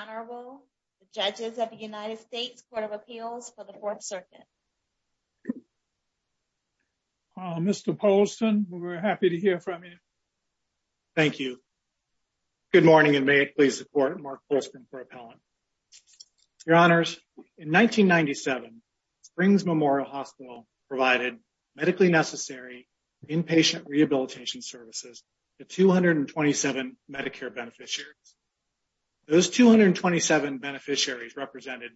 Honorable, Judges of the United States Court of Appeals for the Fourth Circuit. Mr. Polston, we're happy to hear from you. Thank you. Good morning and may it please support Mark Polston for appellant. Your Honors, in 1997 Springs Memorial Hospital provided medically necessary inpatient rehabilitation services to 227 Medicare beneficiaries. Those 227 beneficiaries represented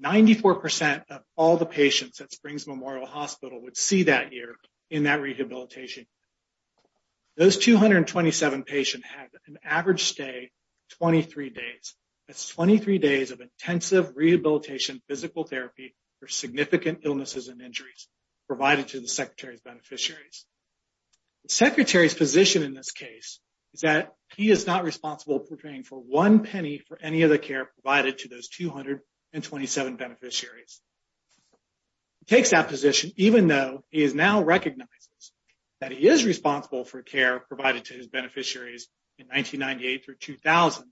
94% of all the patients at Springs Memorial Hospital would see that year in that rehabilitation. Those 227 patient had an average stay 23 days. That's 23 days of intensive rehabilitation physical therapy for significant illnesses and injuries provided to the Secretary's beneficiaries. The Secretary's position in this case is that he is not responsible for paying for one penny for any of the care provided to those 227 beneficiaries. Takes that position even though he is now recognizes that he is responsible for care provided to his beneficiaries in 1998 through 2000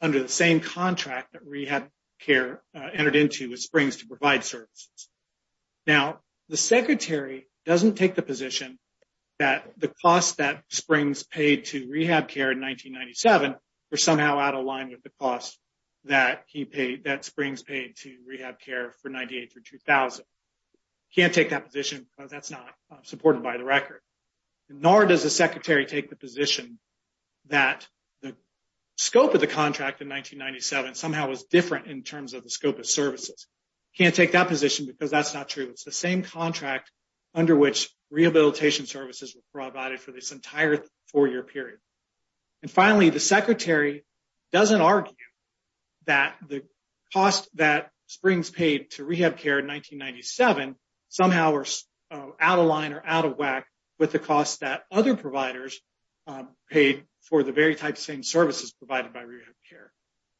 under the same contract that rehab care entered into with Springs to provide services. Now, the Secretary doesn't take the position that the cost that Springs paid to rehab care in 1997 were somehow out of line with the cost that he paid, that Springs paid to rehab care for 98 through 2000. Can't take that position because that's not supported by the record. Nor does the Secretary take the position that the scope of the contract in 1997 somehow was different in terms of the scope of services. Can't take that position because that's not true. It's the same contract under which rehabilitation services were provided for this entire four-year period. And finally, the Secretary doesn't argue that the cost that Springs paid to rehab care in 1997 somehow were out of line or out of whack with the cost that other providers paid for the very type same services provided by rehab care.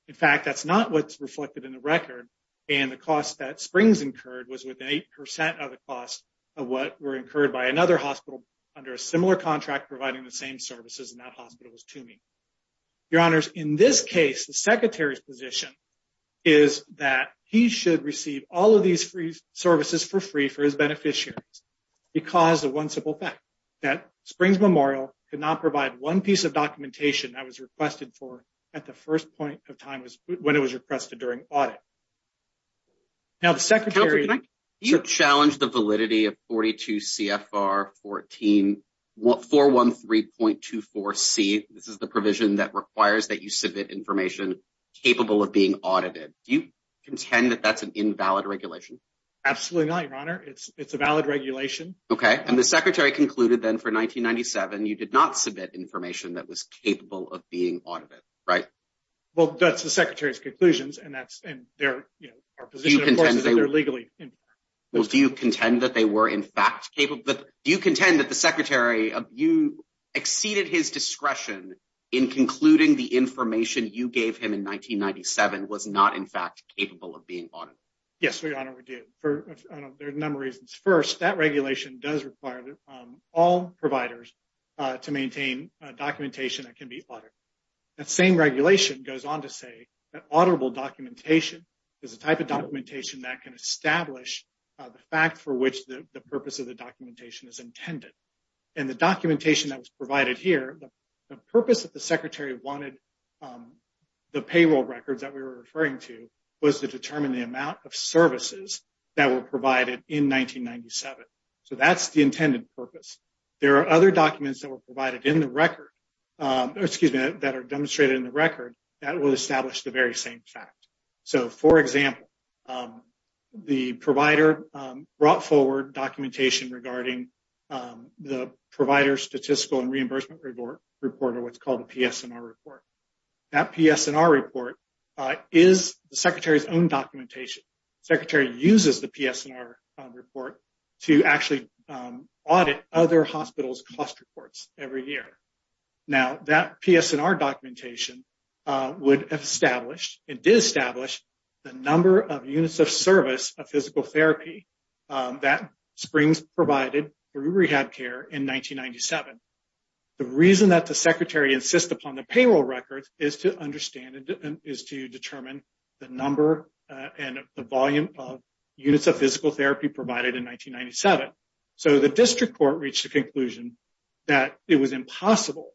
In fact, that's not what's reflected in the record and the cost that Springs incurred was within 8% of the cost of what were incurred by another hospital under a similar contract providing the same services and that hospital was Toomey. Your Honors, in this case, the Secretary's position is that he should receive all of these free services for free for his beneficiaries because of one simple fact, that Springs Memorial could not provide one piece of documentation that was requested for at the first point of time when it was requested during audit. Now, the Secretary... Can I challenge the validity of 42 CFR 14, 413.24C? This is the provision that requires that you submit information capable of being audited. Do you contend that that's an invalid regulation? Absolutely not, Your Honor. It's a valid regulation. Okay, and the Secretary concluded then for 1997, you did not submit information that was capable of being audited, right? Well, that's the Secretary's conclusions and that's... and they're, you know, our position, of course, is that they're legally invalid. Well, do you contend that they were in fact capable? But do you contend that the Secretary, you exceeded his discretion in concluding the information you gave him in 1997 was not in fact capable of being audited? Yes, Your Honor, we did for a number of reasons. First, that regulation does require all providers to maintain documentation that can be audited. That same regulation goes on to say that auditable documentation is a type of documentation that can establish the fact for which the purpose of the documentation is intended. And the documentation that was provided here, the purpose that the Secretary wanted, the payroll records that we were referring to, was to determine the amount of services that were provided in 1997. So that's the intended purpose. There are other documents that were provided in the record, excuse me, that are demonstrated in the record that will establish the very same fact. So, for example, the provider brought forward documentation regarding the Provider Statistical and Reimbursement Report, or what's called the PSNR Report. That PSNR Report is the Secretary's own documentation. The Secretary uses the PSNR Report to actually audit other hospitals' cost reports every year. Now, that PSNR documentation would have established and did establish the number of units of service of physical therapy that Springs provided through RehabCare in 1997. The reason that the Secretary insists upon the payroll records is to understand is to determine the number and the volume of units of physical therapy provided in 1997. So the District Court reached a conclusion that it was impossible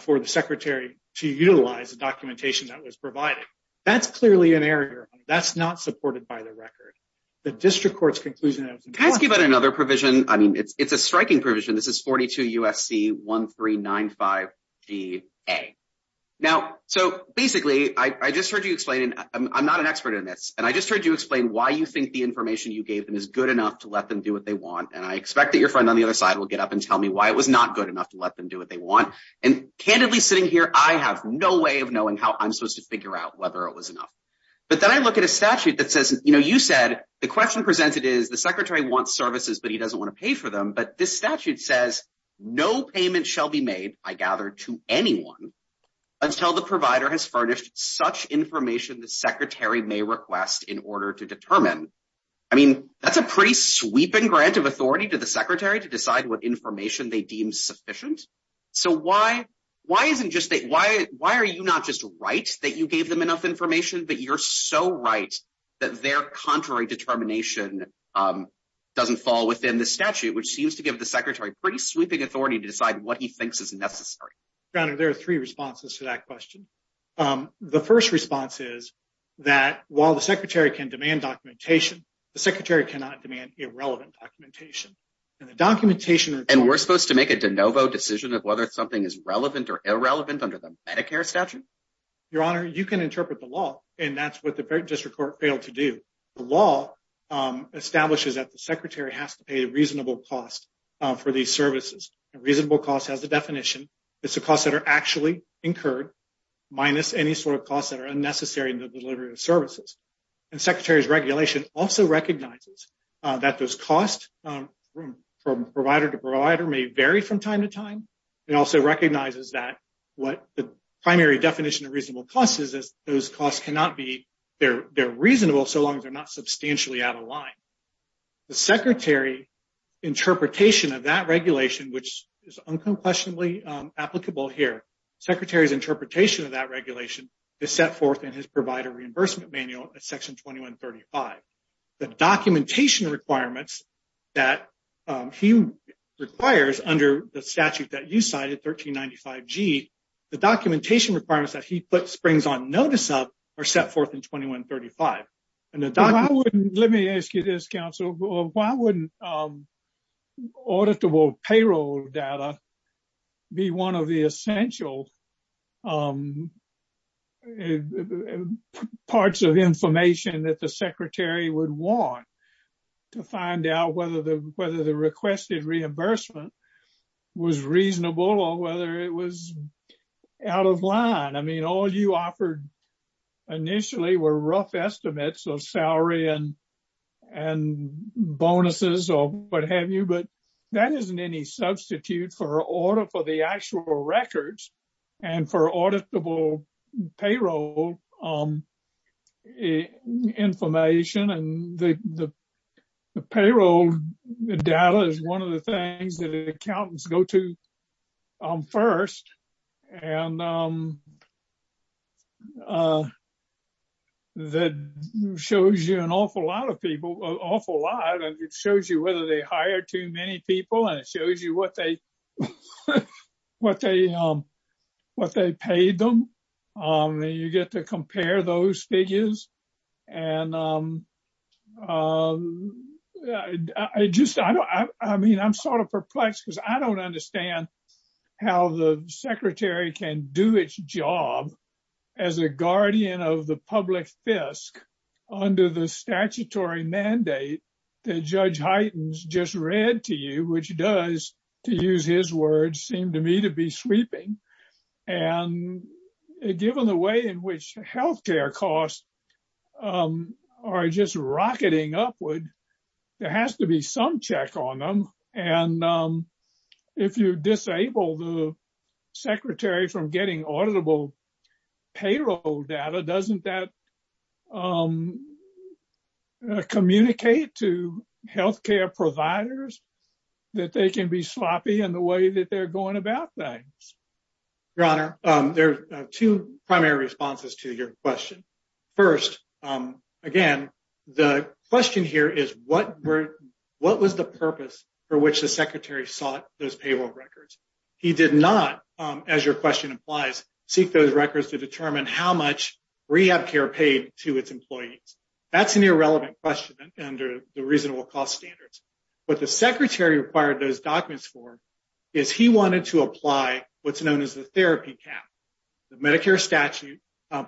for the Secretary to utilize the documentation that was provided. That's clearly an error. That's not supported by the record. The District Court's conclusion... Can I ask you about another provision? I mean, it's a striking provision. This is 42 U.S.C. 1395 D.A. Now, so basically, I just heard you explain, and I'm not an expert in this, and I just heard you explain why you think the information you gave them is good enough to let them do what they want. And I expect that your friend on the other side will get up and tell me why it was not good enough to let them do what they want. And candidly sitting here, I have no way of knowing how I'm supposed to figure out whether it was enough. But then I look at a statute that says, you know, you said, the question presented is the Secretary wants services, but he doesn't want to pay for them. But this statute says, no payment shall be made, I gather, to anyone until the provider has furnished such information the Secretary may request in order to determine. I mean, that's a pretty sweeping grant of authority to the Secretary to decide what information they deem sufficient. So why, why isn't just that, why, why are you not just right that you gave them enough information, but you're so right that their contrary determination doesn't fall within the statute, which seems to give the Secretary pretty sweeping authority to decide what he thinks is necessary. Your Honor, there are three responses to that question. The first response is that while the Secretary can demand documentation, the Secretary cannot demand irrelevant documentation. And the documentation... And we're supposed to make a de novo decision of whether something is relevant or irrelevant under the Medicare statute? Your Honor, you can interpret the law, and that's what the District Court failed to do. The law establishes that the Secretary has to pay a reasonable cost for these services. A reasonable cost has a definition. It's the costs that are actually incurred minus any sort of costs that are unnecessary in the delivery of services. And Secretary's regulation also recognizes that those costs from provider to provider may vary from time to time. It also recognizes that what the primary definition of reasonable cost is, is those costs cannot be, they're reasonable so long as they're not substantially out of line. The Secretary interpretation of that regulation, which is unquestionably applicable here, Secretary's interpretation of that regulation is set forth in his provider reimbursement manual at section 2135. The documentation requirements that he requires under the statute that you cited, 1395G, the documentation requirements that he puts springs on notice of are set forth in 2135. And the document... Let me ask you this, counsel. Why wouldn't auditable payroll data be one of the essential parts of information that the Secretary would want to find out whether the requested reimbursement was reasonable or whether it was out of line? I mean, all you offered initially were rough estimates of salary and bonuses or what have you, but that isn't any substitute for the actual records and for auditable payroll information. And the payroll data is one of the things that accountants go to first. And that shows you an awful lot of people, an awful lot, and it shows you whether they hired too many people and it shows you what they paid them. And you get to compare those figures. And I just, I don't, I mean, I'm sort of perplexed because I don't understand how the Secretary can do its job as a guardian of the public fisc under the statutory mandate that Judge Hyten's just read to you, which does, to use his words, seem to me to be sweeping. And given the way in which healthcare costs are just rocketing upward, there has to be some check on them. And if you disable the Secretary from getting auditable payroll data, doesn't that communicate to healthcare providers that they can be sloppy in the way that they're going about things? Your Honor, there are two primary responses to your question. First, again, the question here is what was the purpose for which the Secretary sought those payroll records? He did not, as your question implies, seek those records to determine how much rehab care paid to its employees. That's an irrelevant question under the reasonable cost standards. What the Secretary required those documents for is he wanted to apply what's known as the therapy cap. The Medicare statute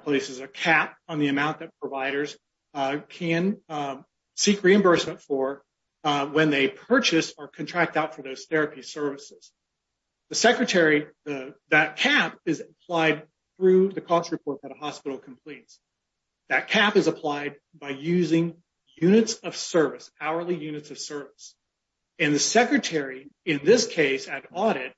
places a cap on the amount that providers can seek reimbursement for when they purchase or contract out for those therapy services. The Secretary, that cap is applied through the cost report that a hospital completes. That cap is applied by using units of service, hourly units of service. And the Secretary, in this case, at audit,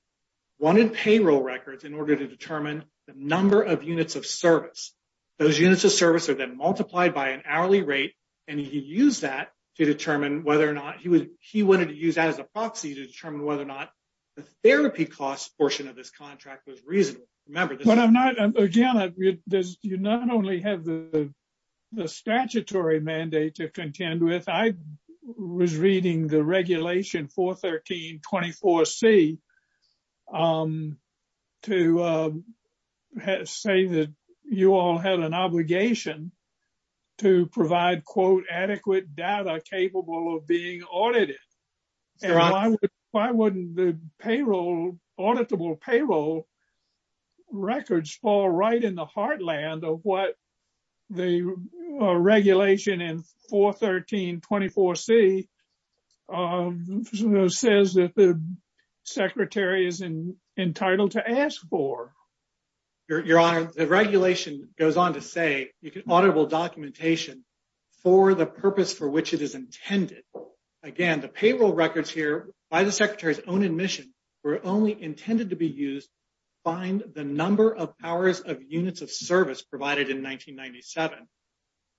wanted payroll records in order to determine the number of units of service. Those units of service are then multiplied by an hourly rate, and he used that to determine whether or not he wanted to use that as a proxy to determine whether or not the therapy cost portion of this contract was reasonable. Remember, this is... Again, you not only have the statutory mandate to contend with, I was reading the regulation 41324C to say that you all had an obligation to provide, quote, adequate data capable of being audited. And why wouldn't the auditable payroll records fall right in the heartland of what the regulation in 41324C says that the Secretary is entitled to ask for? Your Honor, the regulation goes on to say you can auditable documentation for the purpose for which it is intended. Again, the payroll records here by the Secretary's own admission were only intended to be used to find the number of hours of units of service provided in 1997.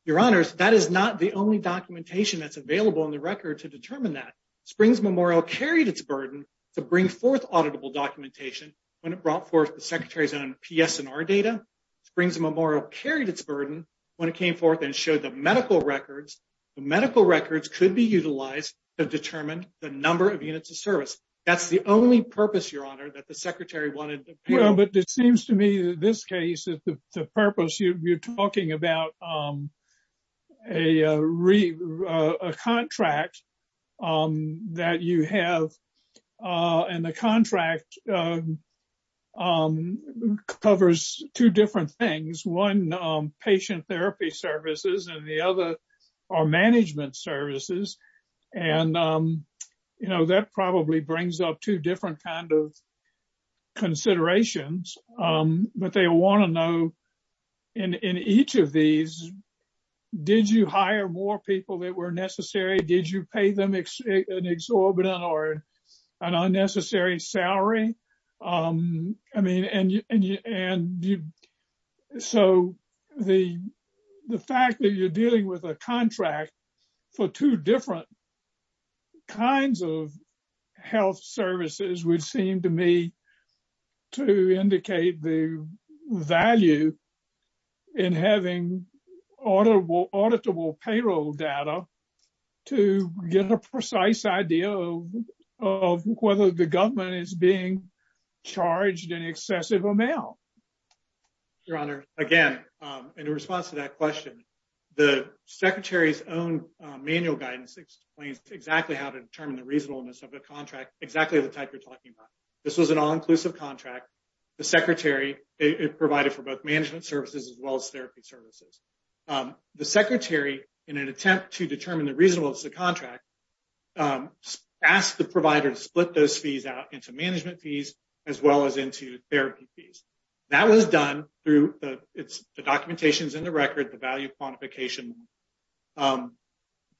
Your Honors, that is not the only documentation that's available in the record to determine that. Springs Memorial carried its burden to bring forth auditable documentation when it brought forth the Secretary's own PSNR data. Springs Memorial carried its burden when it came forth and showed the medical records. The medical records could be utilized to determine the number of units of service. That's the only purpose, Your Honor, that the Secretary wanted to... Well, but it seems to me that this case, the purpose, you're talking about a contract that you have and the contract covers two different things. One, patient therapy services and the other are management services. And, you know, that probably brings up two different kinds of considerations, but they want to know in each of these, did you hire more people that were necessary? Did you pay them an exorbitant or an unnecessary salary? I mean, and so the fact that you're dealing with a contract for two different kinds of health services would seem to me to indicate the value in having auditable payroll data to get a precise idea of whether the government is being charged an excessive amount. Your Honor, again, in response to that question, the Secretary's own manual guidance explains exactly how to determine the reasonableness of a contract, exactly the type you're talking about. This was an all-inclusive contract. The Secretary, it provided for both management services as well as therapy services. The Secretary, in an attempt to determine the reasonableness of the contract, asked the provider to split those fees out into management fees as well as into therapy fees. That was done through the documentations in the record, the value quantification.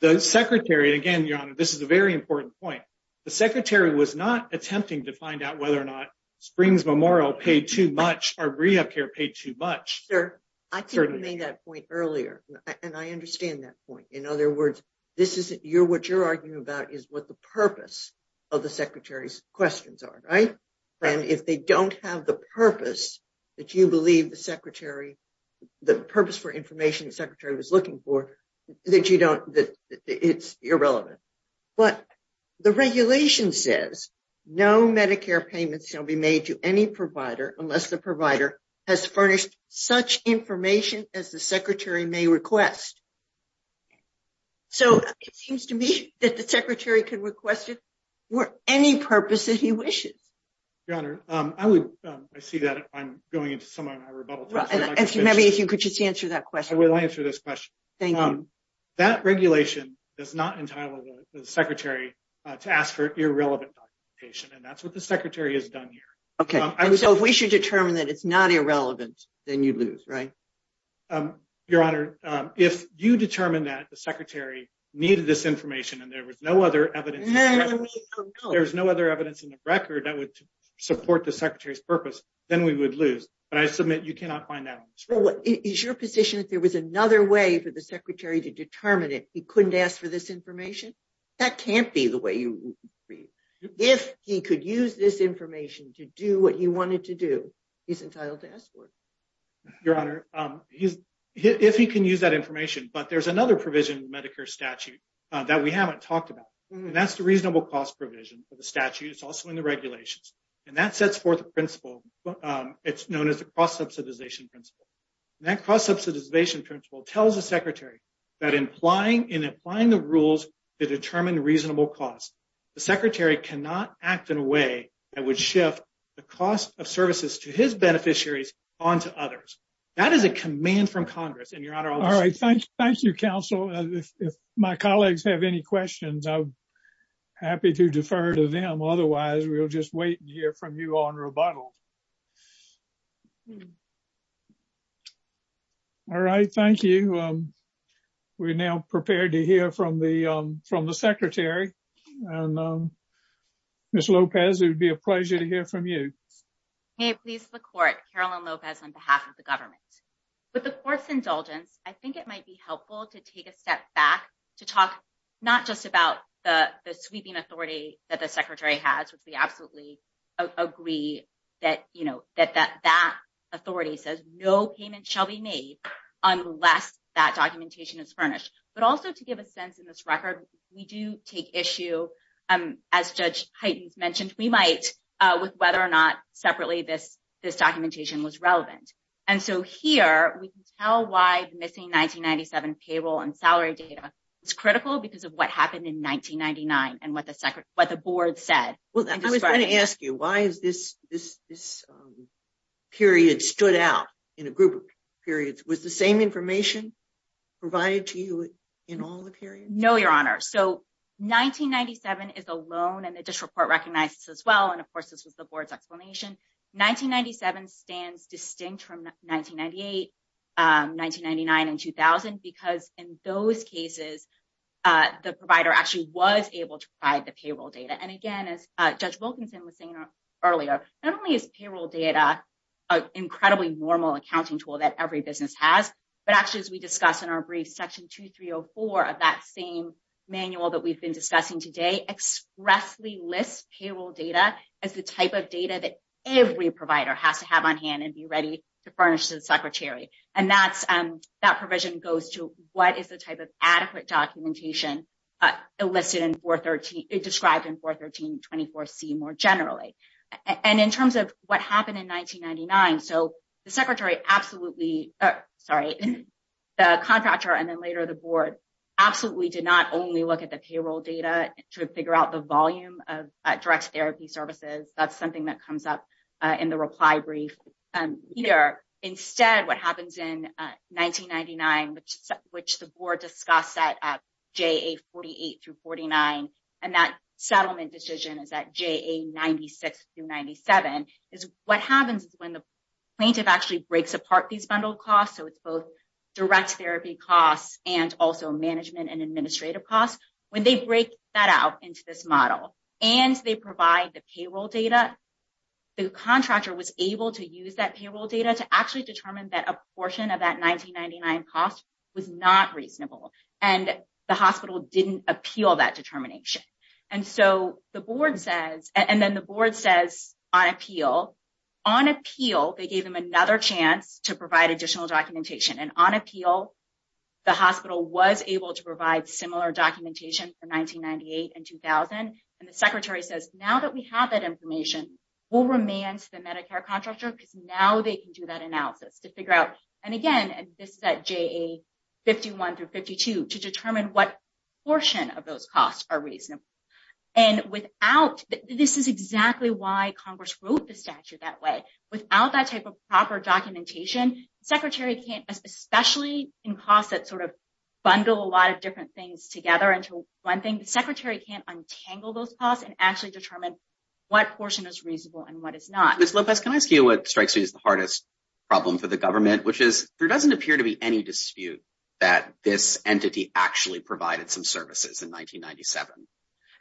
The Secretary, again, Your Honor, this is a very important point. The Secretary was not attempting to find out whether or not Springs Memorial paid too much or rehab care paid too much. Sir, I think you made that point earlier, and I understand that point. In other words, this is what you're arguing about is what the purpose of the Secretary's questions are, right? And if they don't have the purpose that you believe the purpose for information the Secretary was looking for, that it's irrelevant. But the regulation says, no Medicare payments shall be made to any provider unless the provider has furnished such information as the Secretary may request. So it seems to me that the Secretary could request it for any purpose that he wishes. Your Honor, I see that I'm going into some of my rebuttals. Maybe if you could just answer that question. I will answer this question. Thank you. That regulation does not entitle the Secretary to ask for irrelevant documentation, and that's what the Secretary has done here. Okay, so if we should determine that it's not irrelevant, then you lose, right? Your Honor, if you determine that the Secretary needed this information and there was no other evidence, there's no other evidence in the record that would support the Secretary's purpose, then we would lose. But I submit you cannot find that on the screen. Is your position if there was another way for the Secretary to determine it, he couldn't ask for this information? That can't be the way you would agree. If he could use this information to do what he wanted to do, he's entitled to ask for it. Your Honor, if he can use that information, but there's another provision in the Medicare statute that we haven't talked about, and that's the reasonable cost provision of the statute. It's also in the regulations, and that sets forth a principle. It's known as the cross-subsidization principle. That cross-subsidization principle tells the Secretary that in applying the rules to determine reasonable costs, the Secretary cannot act in a way that would shift the cost of services to his beneficiaries onto others. That is a command from Congress. And your Honor, I'll just... All right. Thank you, Counsel. If my colleagues have any questions, I'm happy to defer to them. Otherwise, we'll just wait and hear from you on rebuttal. All right. Thank you. We're now prepared to hear from the Secretary. And, Ms. Lopez, it would be a pleasure to hear from you. May it please the Court, Carolyn Lopez, on behalf of the government. With the Court's indulgence, I think it might be helpful to take a step back to talk not just about the sweeping authority that the Secretary has, which we absolutely agree that the Secretary has, that that authority says no payment shall be made unless that documentation is furnished. But also to give a sense in this record, we do take issue, as Judge Heiden's mentioned, we might with whether or not separately this documentation was relevant. And so here we can tell why the missing 1997 payroll and salary data is critical because of what happened in 1999 and what the board said. I was going to ask you, why is this period stood out in a group of periods? Was the same information provided to you in all the periods? No, Your Honor. So 1997 is a loan and the district court recognized this as well. And of course, this was the board's explanation. 1997 stands distinct from 1998, 1999 and 2000 because in those cases, the provider actually was able to provide the payroll data. And again, as Judge Wilkinson was saying, earlier, not only is payroll data an incredibly normal accounting tool that every business has, but actually, as we discussed in our brief section 2304 of that same manual that we've been discussing today, expressly lists payroll data as the type of data that every provider has to have on hand and be ready to furnish to the Secretary. And that provision goes to what is the type of adequate documentation elicited in 413, described in 413-24C more generally. And in terms of what happened in 1999, so the secretary absolutely, sorry, the contractor and then later the board absolutely did not only look at the payroll data to figure out the volume of direct therapy services. That's something that comes up in the reply brief here. Instead, what happens in 1999, which the board discussed at JA-48-49, and that settlement decision is at JA-96-97, is what happens is when the plaintiff actually breaks apart these bundled costs, so it's both direct therapy costs and also management and administrative costs. When they break that out into this model and they provide the payroll data, the contractor was able to use that payroll data to actually determine that a portion of that 1999 cost was not reasonable. And the hospital didn't appeal that determination. And so the board says, and then the board says on appeal, on appeal, they gave him another chance to provide additional documentation. And on appeal, the hospital was able to provide similar documentation for 1998 and 2000. And the secretary says, now that we have that information, we'll remand to the Medicare contractor because now they can do that analysis to figure out. And again, this is at JA-51-52, to determine what portion of those costs are reasonable. And without, this is exactly why Congress wrote the statute that way, without that type of proper documentation, the secretary can't, especially in costs that sort of bundle a lot of different things together into one thing, the secretary can't untangle those costs and actually determine what portion is reasonable and what is not. Ms. Lopez, can I ask you what strikes me as the hardest problem for the government, which is there doesn't appear to be any dispute that this entity actually provided some services in 1997.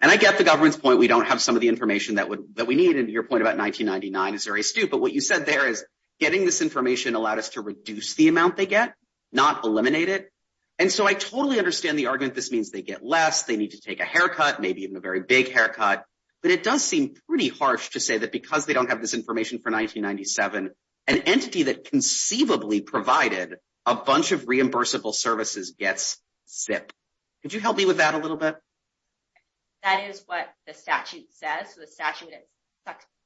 And I get the government's point, we don't have some of the information that we need. And your point about 1999 is very astute. But what you said there is getting this information allowed us to reduce the amount they get, not eliminate it. And so I totally understand the argument this means they get less, they need to take a haircut, maybe even a very big haircut. But it does seem pretty harsh to say that because they don't have this information for 1997, an entity that conceivably provided a bunch of reimbursable services gets zipped. Could you help me with that a little bit? That is what the statute says. So the statute is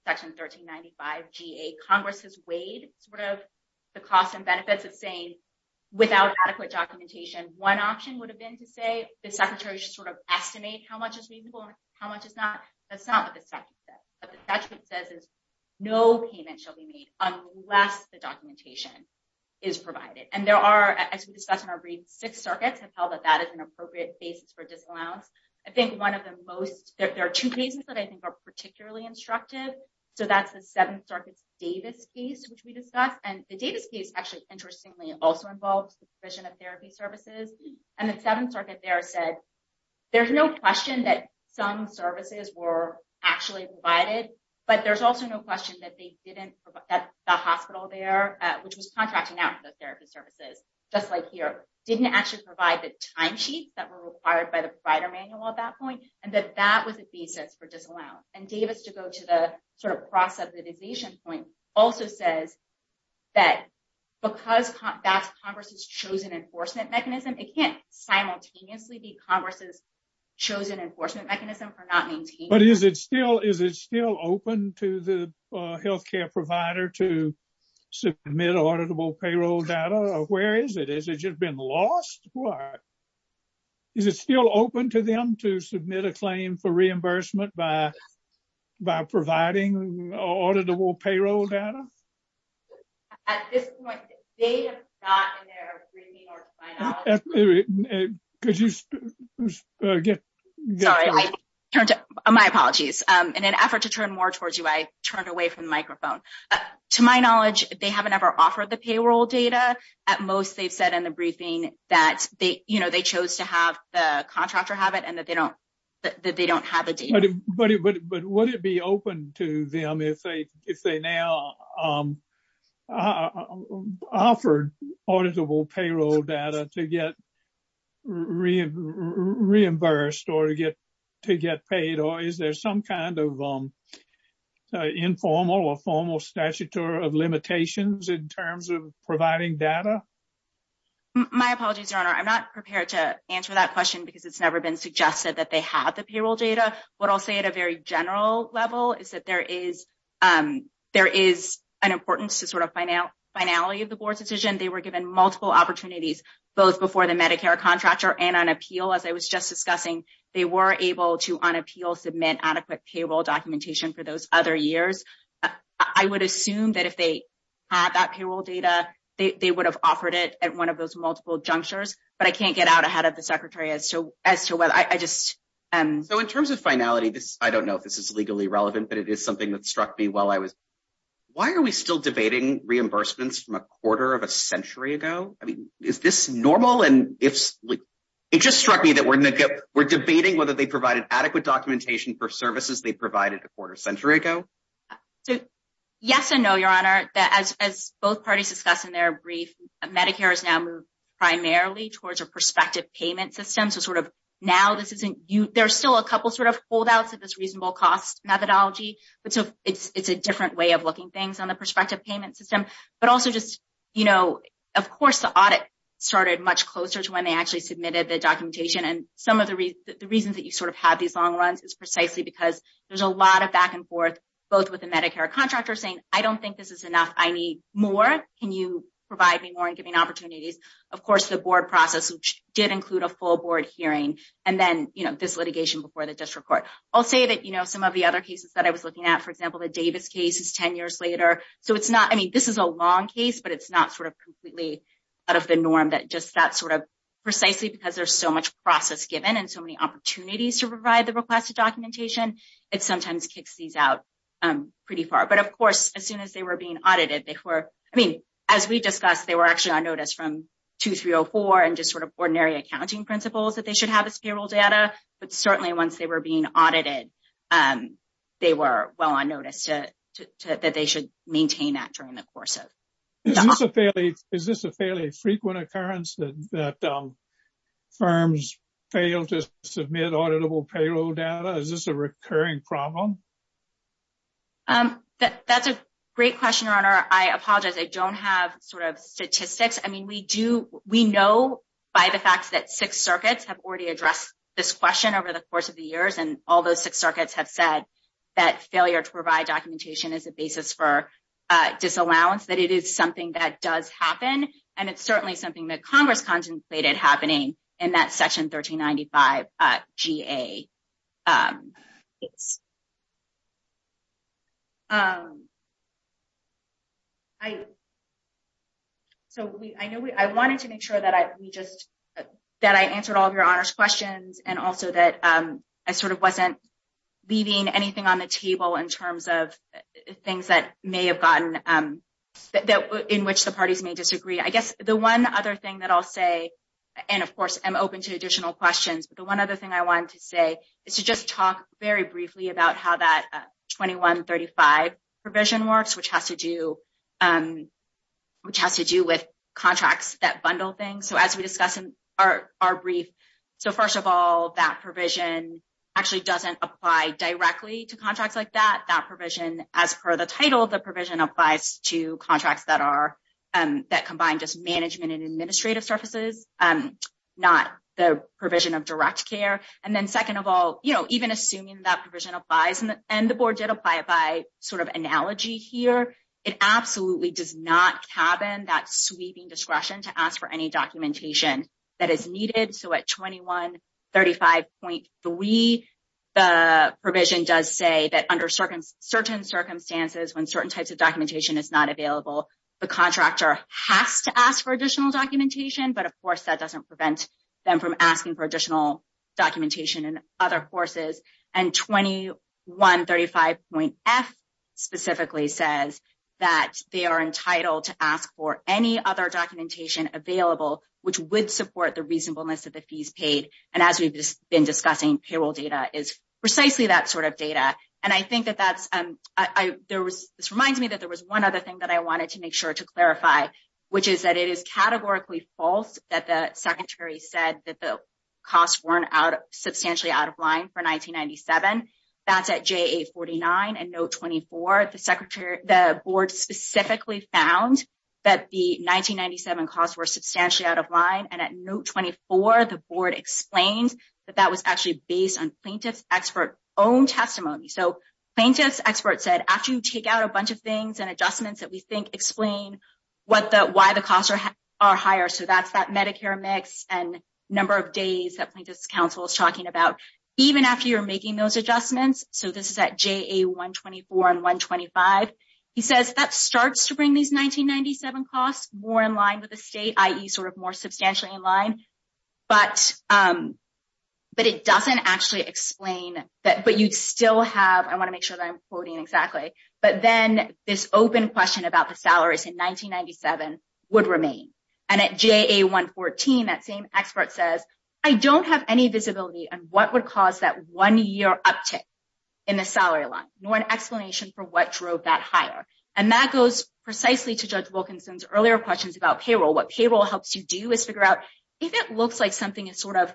section 1395 GA. Congress has weighed sort of the costs and benefits of saying without adequate documentation, one option would have been to say the secretary should sort of estimate how much is reasonable and how much is not. That's not what the statute says. What the statute says is no payment shall be made unless the documentation is provided. And there are, as we discussed in our brief, six circuits have held that that is an appropriate basis for disallowance. I think one of the most, there are two cases that I think are particularly instructive. So that's the Seventh Circuit's Davis case, which we discussed. And the Davis case actually, interestingly, also involves the provision of therapy services. And the Seventh Circuit there said there's no question that some services were actually provided. But there's also no question that they didn't, that the hospital there, which was contracting out for the therapy services, just like here, didn't actually provide the timesheets that were required by the provider manual at that point and that that was a basis for disallowance. And Davis, to go to the sort of cross-subdivision point, also says that because that's Congress's chosen enforcement mechanism, it can't simultaneously be Congress's chosen enforcement mechanism for not maintaining. But is it still, is it still open to the health care provider to submit auditable payroll data? Where is it? Has it just been lost? Is it still open to them to submit a claim for reimbursement by providing auditable payroll data? At this point, they have not in their reading or final. Could you get? Sorry, my apologies. In an effort to turn more towards you, I turned away from the microphone. To my knowledge, they haven't ever offered the payroll data. At most, they've said in the briefing that they chose to have the contractor have it and that they don't have the data. But would it be open to them if they now offered auditable payroll data to get reimbursed or to get paid? Or is there some kind of informal or formal statutory of limitations in terms of providing data? My apologies, Your Honor. I'm not prepared to answer that question because it's never been suggested that they have the payroll data. What I'll say at a very general level is that there is an importance to finality of the board's decision. They were given multiple opportunities, both before the Medicare contractor and on appeal, as I was just discussing. They were able to, on appeal, submit adequate payroll documentation for those other years. I would assume that if they had that payroll data, they would have offered it at one of those multiple junctures. But I can't get out ahead of the Secretary as to whether. So in terms of finality, I don't know if this is legally relevant, but it is something that struck me while I was. Why are we still debating reimbursements from a quarter of a century ago? I mean, is this normal? And it just struck me that we're debating whether they provided adequate documentation for services they provided a quarter century ago. Yes and no, Your Honor. As both parties discussed in their brief, Medicare has now moved primarily towards a prospective payment system. So now there are still a couple of holdouts of this reasonable cost methodology. But so it's a different way of looking things on the prospective payment system. But also just, of course, the audit started much closer to when they actually submitted the documentation. And some of the reasons that you sort of have these long runs is precisely because there's a lot of back and forth, both with the Medicare contractor saying, I don't think this is enough. I need more. Can you provide me more in giving opportunities? Of course, the board process, which did include a full board hearing, and then this litigation before the district court. I'll say that some of the other cases that I was looking at, for example, the Davis case is 10 years later. So it's not, I mean, this is a long case, but it's not sort of completely out of the norm that just that sort of precisely because there's so much process given and so many opportunities to provide the requested documentation, it sometimes kicks these out pretty far. But of course, as soon as they were being audited, they were, I mean, as we discussed, they were actually on notice from 2304 and just sort of ordinary accounting principles that they should have as payroll data. But certainly once they were being audited, they were well on notice that they should maintain that during the course of the audit. Is this a fairly frequent occurrence that firms fail to submit auditable payroll data? Is this a recurring problem? That's a great question, Your Honor. I apologize. I don't have sort of statistics. I mean, we know by the fact that six circuits have already addressed this question over the course of the years, and all those six circuits have said that failure to provide documentation is a basis for disallowance, that it is something that does happen. And it's certainly something that Congress contemplated happening in that Section 1395 GA case. So I wanted to make sure that I just, sort of, answered all of Your Honor's questions and also that I sort of wasn't leaving anything on the table in terms of things that may have gotten, in which the parties may disagree. I guess the one other thing that I'll say, and of course, I'm open to additional questions, but the one other thing I wanted to say is to just talk very briefly about how that 2135 provision works, which has to do with contracts that bundle things. So as we discussed in our brief, so first of all, that provision actually doesn't apply directly to contracts like that. That provision, as per the title, the provision applies to contracts that combine just management and administrative services, not the provision of direct care. And then second of all, even assuming that provision applies, and the Board did apply it by sort of analogy here, it absolutely does not cabin that sweeping discretion to ask for any documentation that is needed. So at 2135.3, the provision does say that under certain circumstances, when certain types of documentation is not available, the contractor has to ask for additional documentation, but of course, that doesn't prevent them from asking for additional documentation in other courses. And 2135.F specifically says that they are entitled to ask for any other documentation available, which would support the reasonableness of the fees paid. And as we've been discussing, payroll data is precisely that sort of data. And I think that that's, this reminds me that there was one other thing that I wanted to make sure to clarify, which is that it is categorically false that the Secretary said that the costs weren't substantially out of line for 1997. That's at JA-49 and Note 24. The Secretary, the Board specifically found that the 1997 costs were substantially out of line. And at Note 24, the Board explains that that was actually based on plaintiff's expert own testimony. So plaintiff's expert said, after you take out a bunch of things and adjustments that we think explain what the, why the costs are higher. So that's that Medicare mix and number of days that plaintiff's counsel is talking about, even after you're making those adjustments. So this is at JA-124 and 125. He says that starts to bring these 1997 costs more in line with the state, i.e. sort of more substantially in line. But it doesn't actually explain that, but you'd still have, I want to make sure that I'm quoting exactly, but then this open question about the salaries in 1997 would remain. And at JA-114, that same expert says, I don't have any visibility on what would cause that one-year uptick in the salary line, nor an explanation for what drove that higher. And that goes precisely to Judge Wilkinson's earlier questions about payroll. What payroll helps you do is figure out if it looks like something is sort of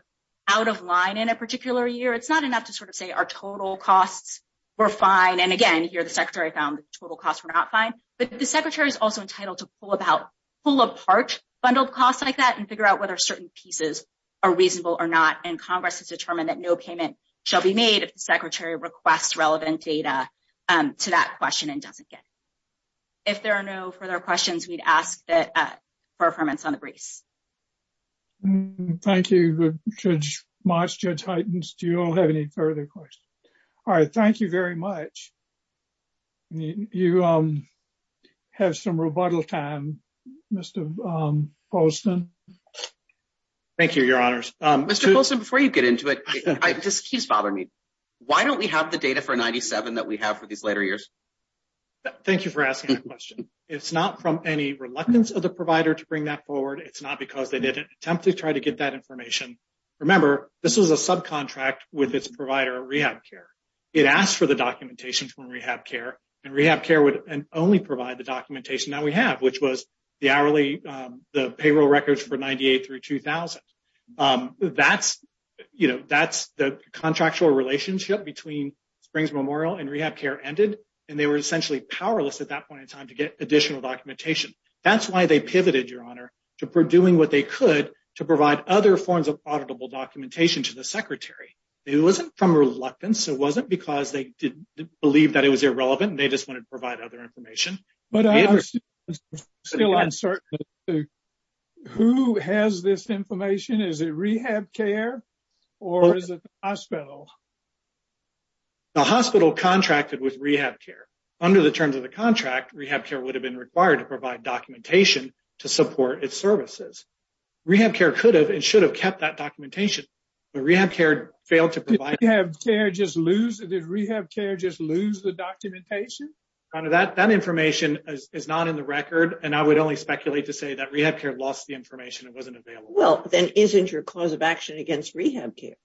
out of line in a particular year, it's not enough to sort of say our total costs were fine. And again, here the Secretary found total costs were not fine, but the Secretary is also entitled to pull about, pull apart bundled costs like that and figure out whether certain pieces are reasonable or not. And Congress has determined that no payment shall be made if the Secretary requests relevant data to that question and doesn't get it. If there are no further questions, we'd ask that for affirmance on the briefs. Thank you, Judge Moss, Judge Heitens. Do you all have any further questions? All right, thank you very much. You have some rebuttal time, Mr. Bolson. Thank you, Your Honors. Mr. Bolson, before you get into it, this keeps bothering me. Why don't we have the data for 97 that we have for these later years? Thank you for asking that question. It's not from any reluctance of the provider to bring that forward. It's not because they didn't attempt to try to get that information. Remember, this was a subcontract with its provider, RehabCare. It asked for the documentation from RehabCare, and RehabCare would only provide the documentation that we have, which was the payroll records for 98 through 2000. That's the contractual relationship between Springs Memorial and RehabCare ended, and they were essentially powerless at that point in time to get additional documentation. That's why they pivoted, Your Honor, to doing what they could to provide other forms of auditable documentation to the Secretary. It wasn't from reluctance. It wasn't because they didn't believe that it was irrelevant, and they just wanted to provide other information. But I'm still uncertain. Who has this information? Is it RehabCare or is it the hospital? The hospital contracted with RehabCare. Under the terms of the contract, RehabCare would have been required to provide documentation to support its services. RehabCare could have and should have kept that documentation, but RehabCare failed to provide it. Did RehabCare just lose the documentation? That information is not in the record, and I would only speculate to say that RehabCare lost the information. It wasn't available. Well, then isn't your cause of action against RehabCare?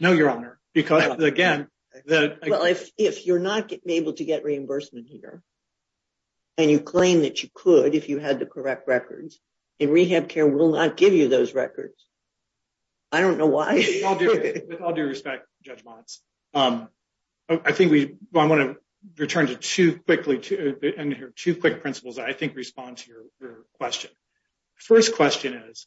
No, Your Honor, because again, the... Well, if you're not able to get reimbursement here and you claim that you could if you had the correct records, then RehabCare will not give you those records. I don't know why. With all due respect, Judge Motz, I think we... I want to return to two quickly... Two quick principles that I think respond to your question. First question is,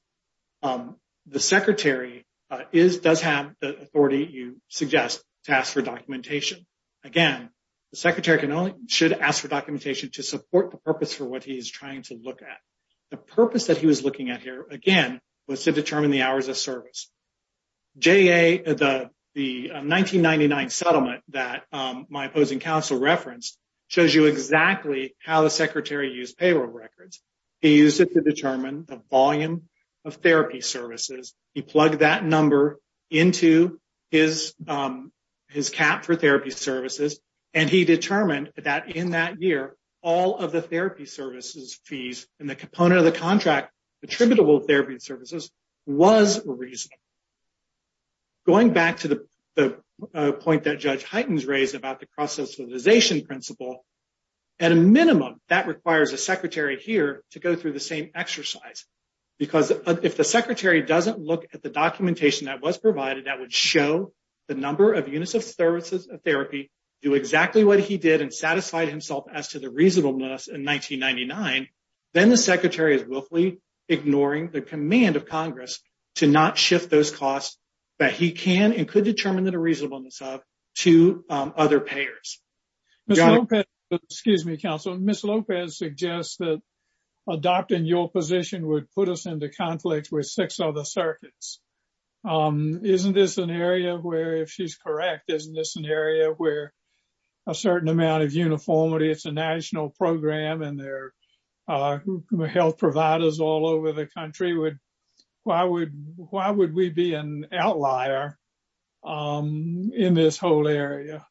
the Secretary does have the authority you suggest to ask for documentation. Again, the Secretary should ask for documentation to support the purpose for what he is trying to look at. The purpose that he was looking at here, again, was to determine the hours of service. The 1999 settlement that my opposing counsel referenced shows you exactly how the Secretary used payroll records. He used it to determine the volume of therapy services. He plugged that number into his cap for therapy services, and he determined that in that year, all of the therapy services fees and the component of the contract attributable therapy services was reasonable. Going back to the point that Judge Heitens raised about the cross-socialization principle, at a minimum, that requires a Secretary here to go through the same exercise. Because if the Secretary doesn't look at the documentation that was provided that would show the number of units of therapy do exactly what he did and satisfy himself as to the reasonableness in 1999, then the Secretary is willfully ignoring the command of Congress to not shift those costs that he can and could determine the reasonableness of to other payers. Mr. Lopez, excuse me, counsel. Ms. Lopez suggests that adopting your position would put us into conflict with six other circuits. Isn't this an area where, if she's correct, isn't this an area where a certain amount of uniformity, it's a national program, and there are health providers all over the country, why would we be an outlier in this whole area?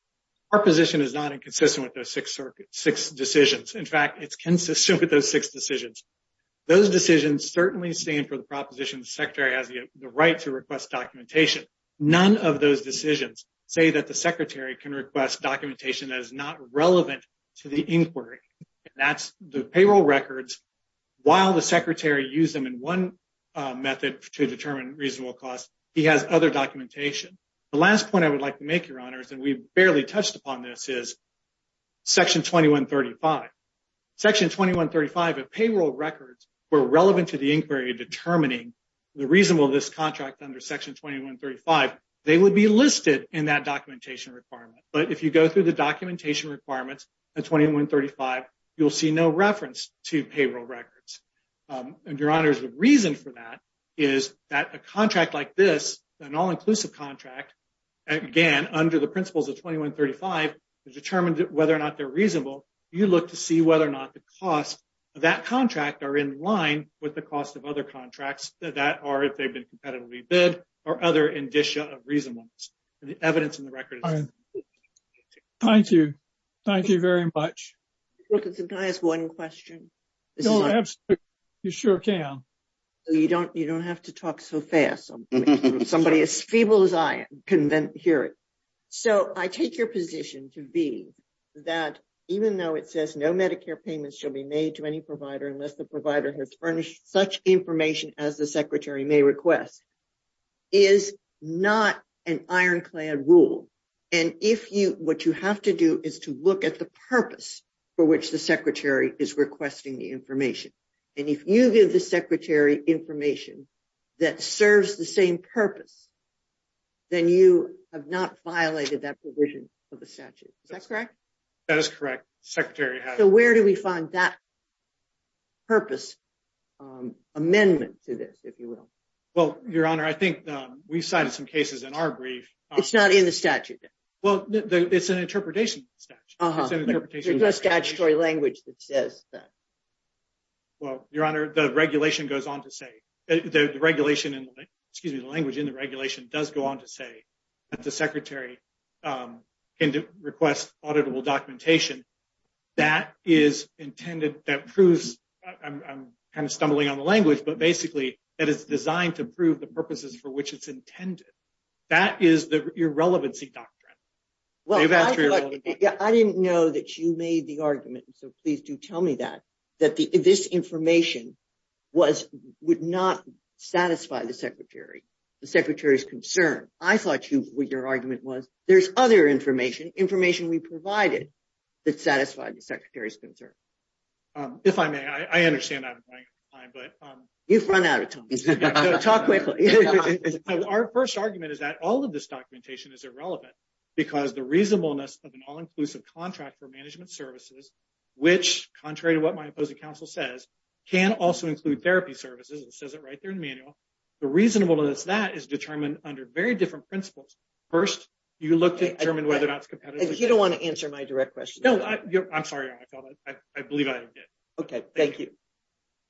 Our position is not inconsistent with those six decisions. In fact, it's consistent with those six decisions. Those decisions certainly stand for the proposition the Secretary has the right to request documentation. None of those decisions say that the Secretary can request documentation that is not relevant to the inquiry. That's the payroll records, while the Secretary used them in one method to determine reasonable costs, he has other documentation. The last point I would like to make, Your Honors, and we barely touched upon this, is Section 2135. Section 2135 of payroll records were relevant to the inquiry determining the reasonableness of this contract under Section 2135. They would be listed in that documentation requirement. But if you go through the documentation requirements of 2135, you'll see no reference to payroll records. And, Your Honors, the reason for that is that a contract like this, an all-inclusive contract, again, under the principles of 2135, to determine whether or not they're reasonable, you look to see whether or not the costs of that contract are in line with the costs of other contracts that are, if they've been competitively bid, or other indicia of reasonableness. The evidence in the record is... Thank you. Thank you very much. Wilkinson, can I ask one question? No, absolutely. You sure can. You don't have to talk so fast. Somebody as feeble as I can then hear it. So, I take your position to be that even though it says no Medicare payments shall be made to any provider unless the provider has furnished such information as the Secretary may request, is not an ironclad rule. And if you, what you have to do is to look at the purpose for which the Secretary is requesting the information. And if you give the Secretary information that serves the same purpose, then you have not violated that provision of the statute. Is that correct? That is correct. Secretary has... So, where do we find that purpose amendment to this, if you will? Well, Your Honor, I think we've cited some cases in our brief... It's not in the statute then? Well, it's an interpretation. There's no statutory language that says that. Well, Your Honor, the regulation goes on to say, the regulation and, excuse me, the language in the regulation does go on to say that the Secretary can request auditable documentation. That is intended, that proves, I'm kind of stumbling on the language, but basically, that it's designed to prove the purposes for which it's intended. That is the irrelevancy doctrine. Well, I didn't know that you made the argument, so please do tell me that, that this information would not satisfy the Secretary, the Secretary's concern. I thought your argument was, there's other information, information we provided, that satisfied the Secretary's concern. If I may, I understand that. You've run out of time. Talk quickly. Our first argument is that all of this documentation is irrelevant, because the reasonableness of an all-inclusive contract for management services, which, contrary to what my opposing counsel says, can also include therapy services, it says it right there in the manual. The reasonableness of that is determined under very different principles. First, you look to determine whether or not it's competitive. You don't want to answer my direct question. No, I'm sorry, Your Honor, I felt that, I believe I did. Okay, thank you.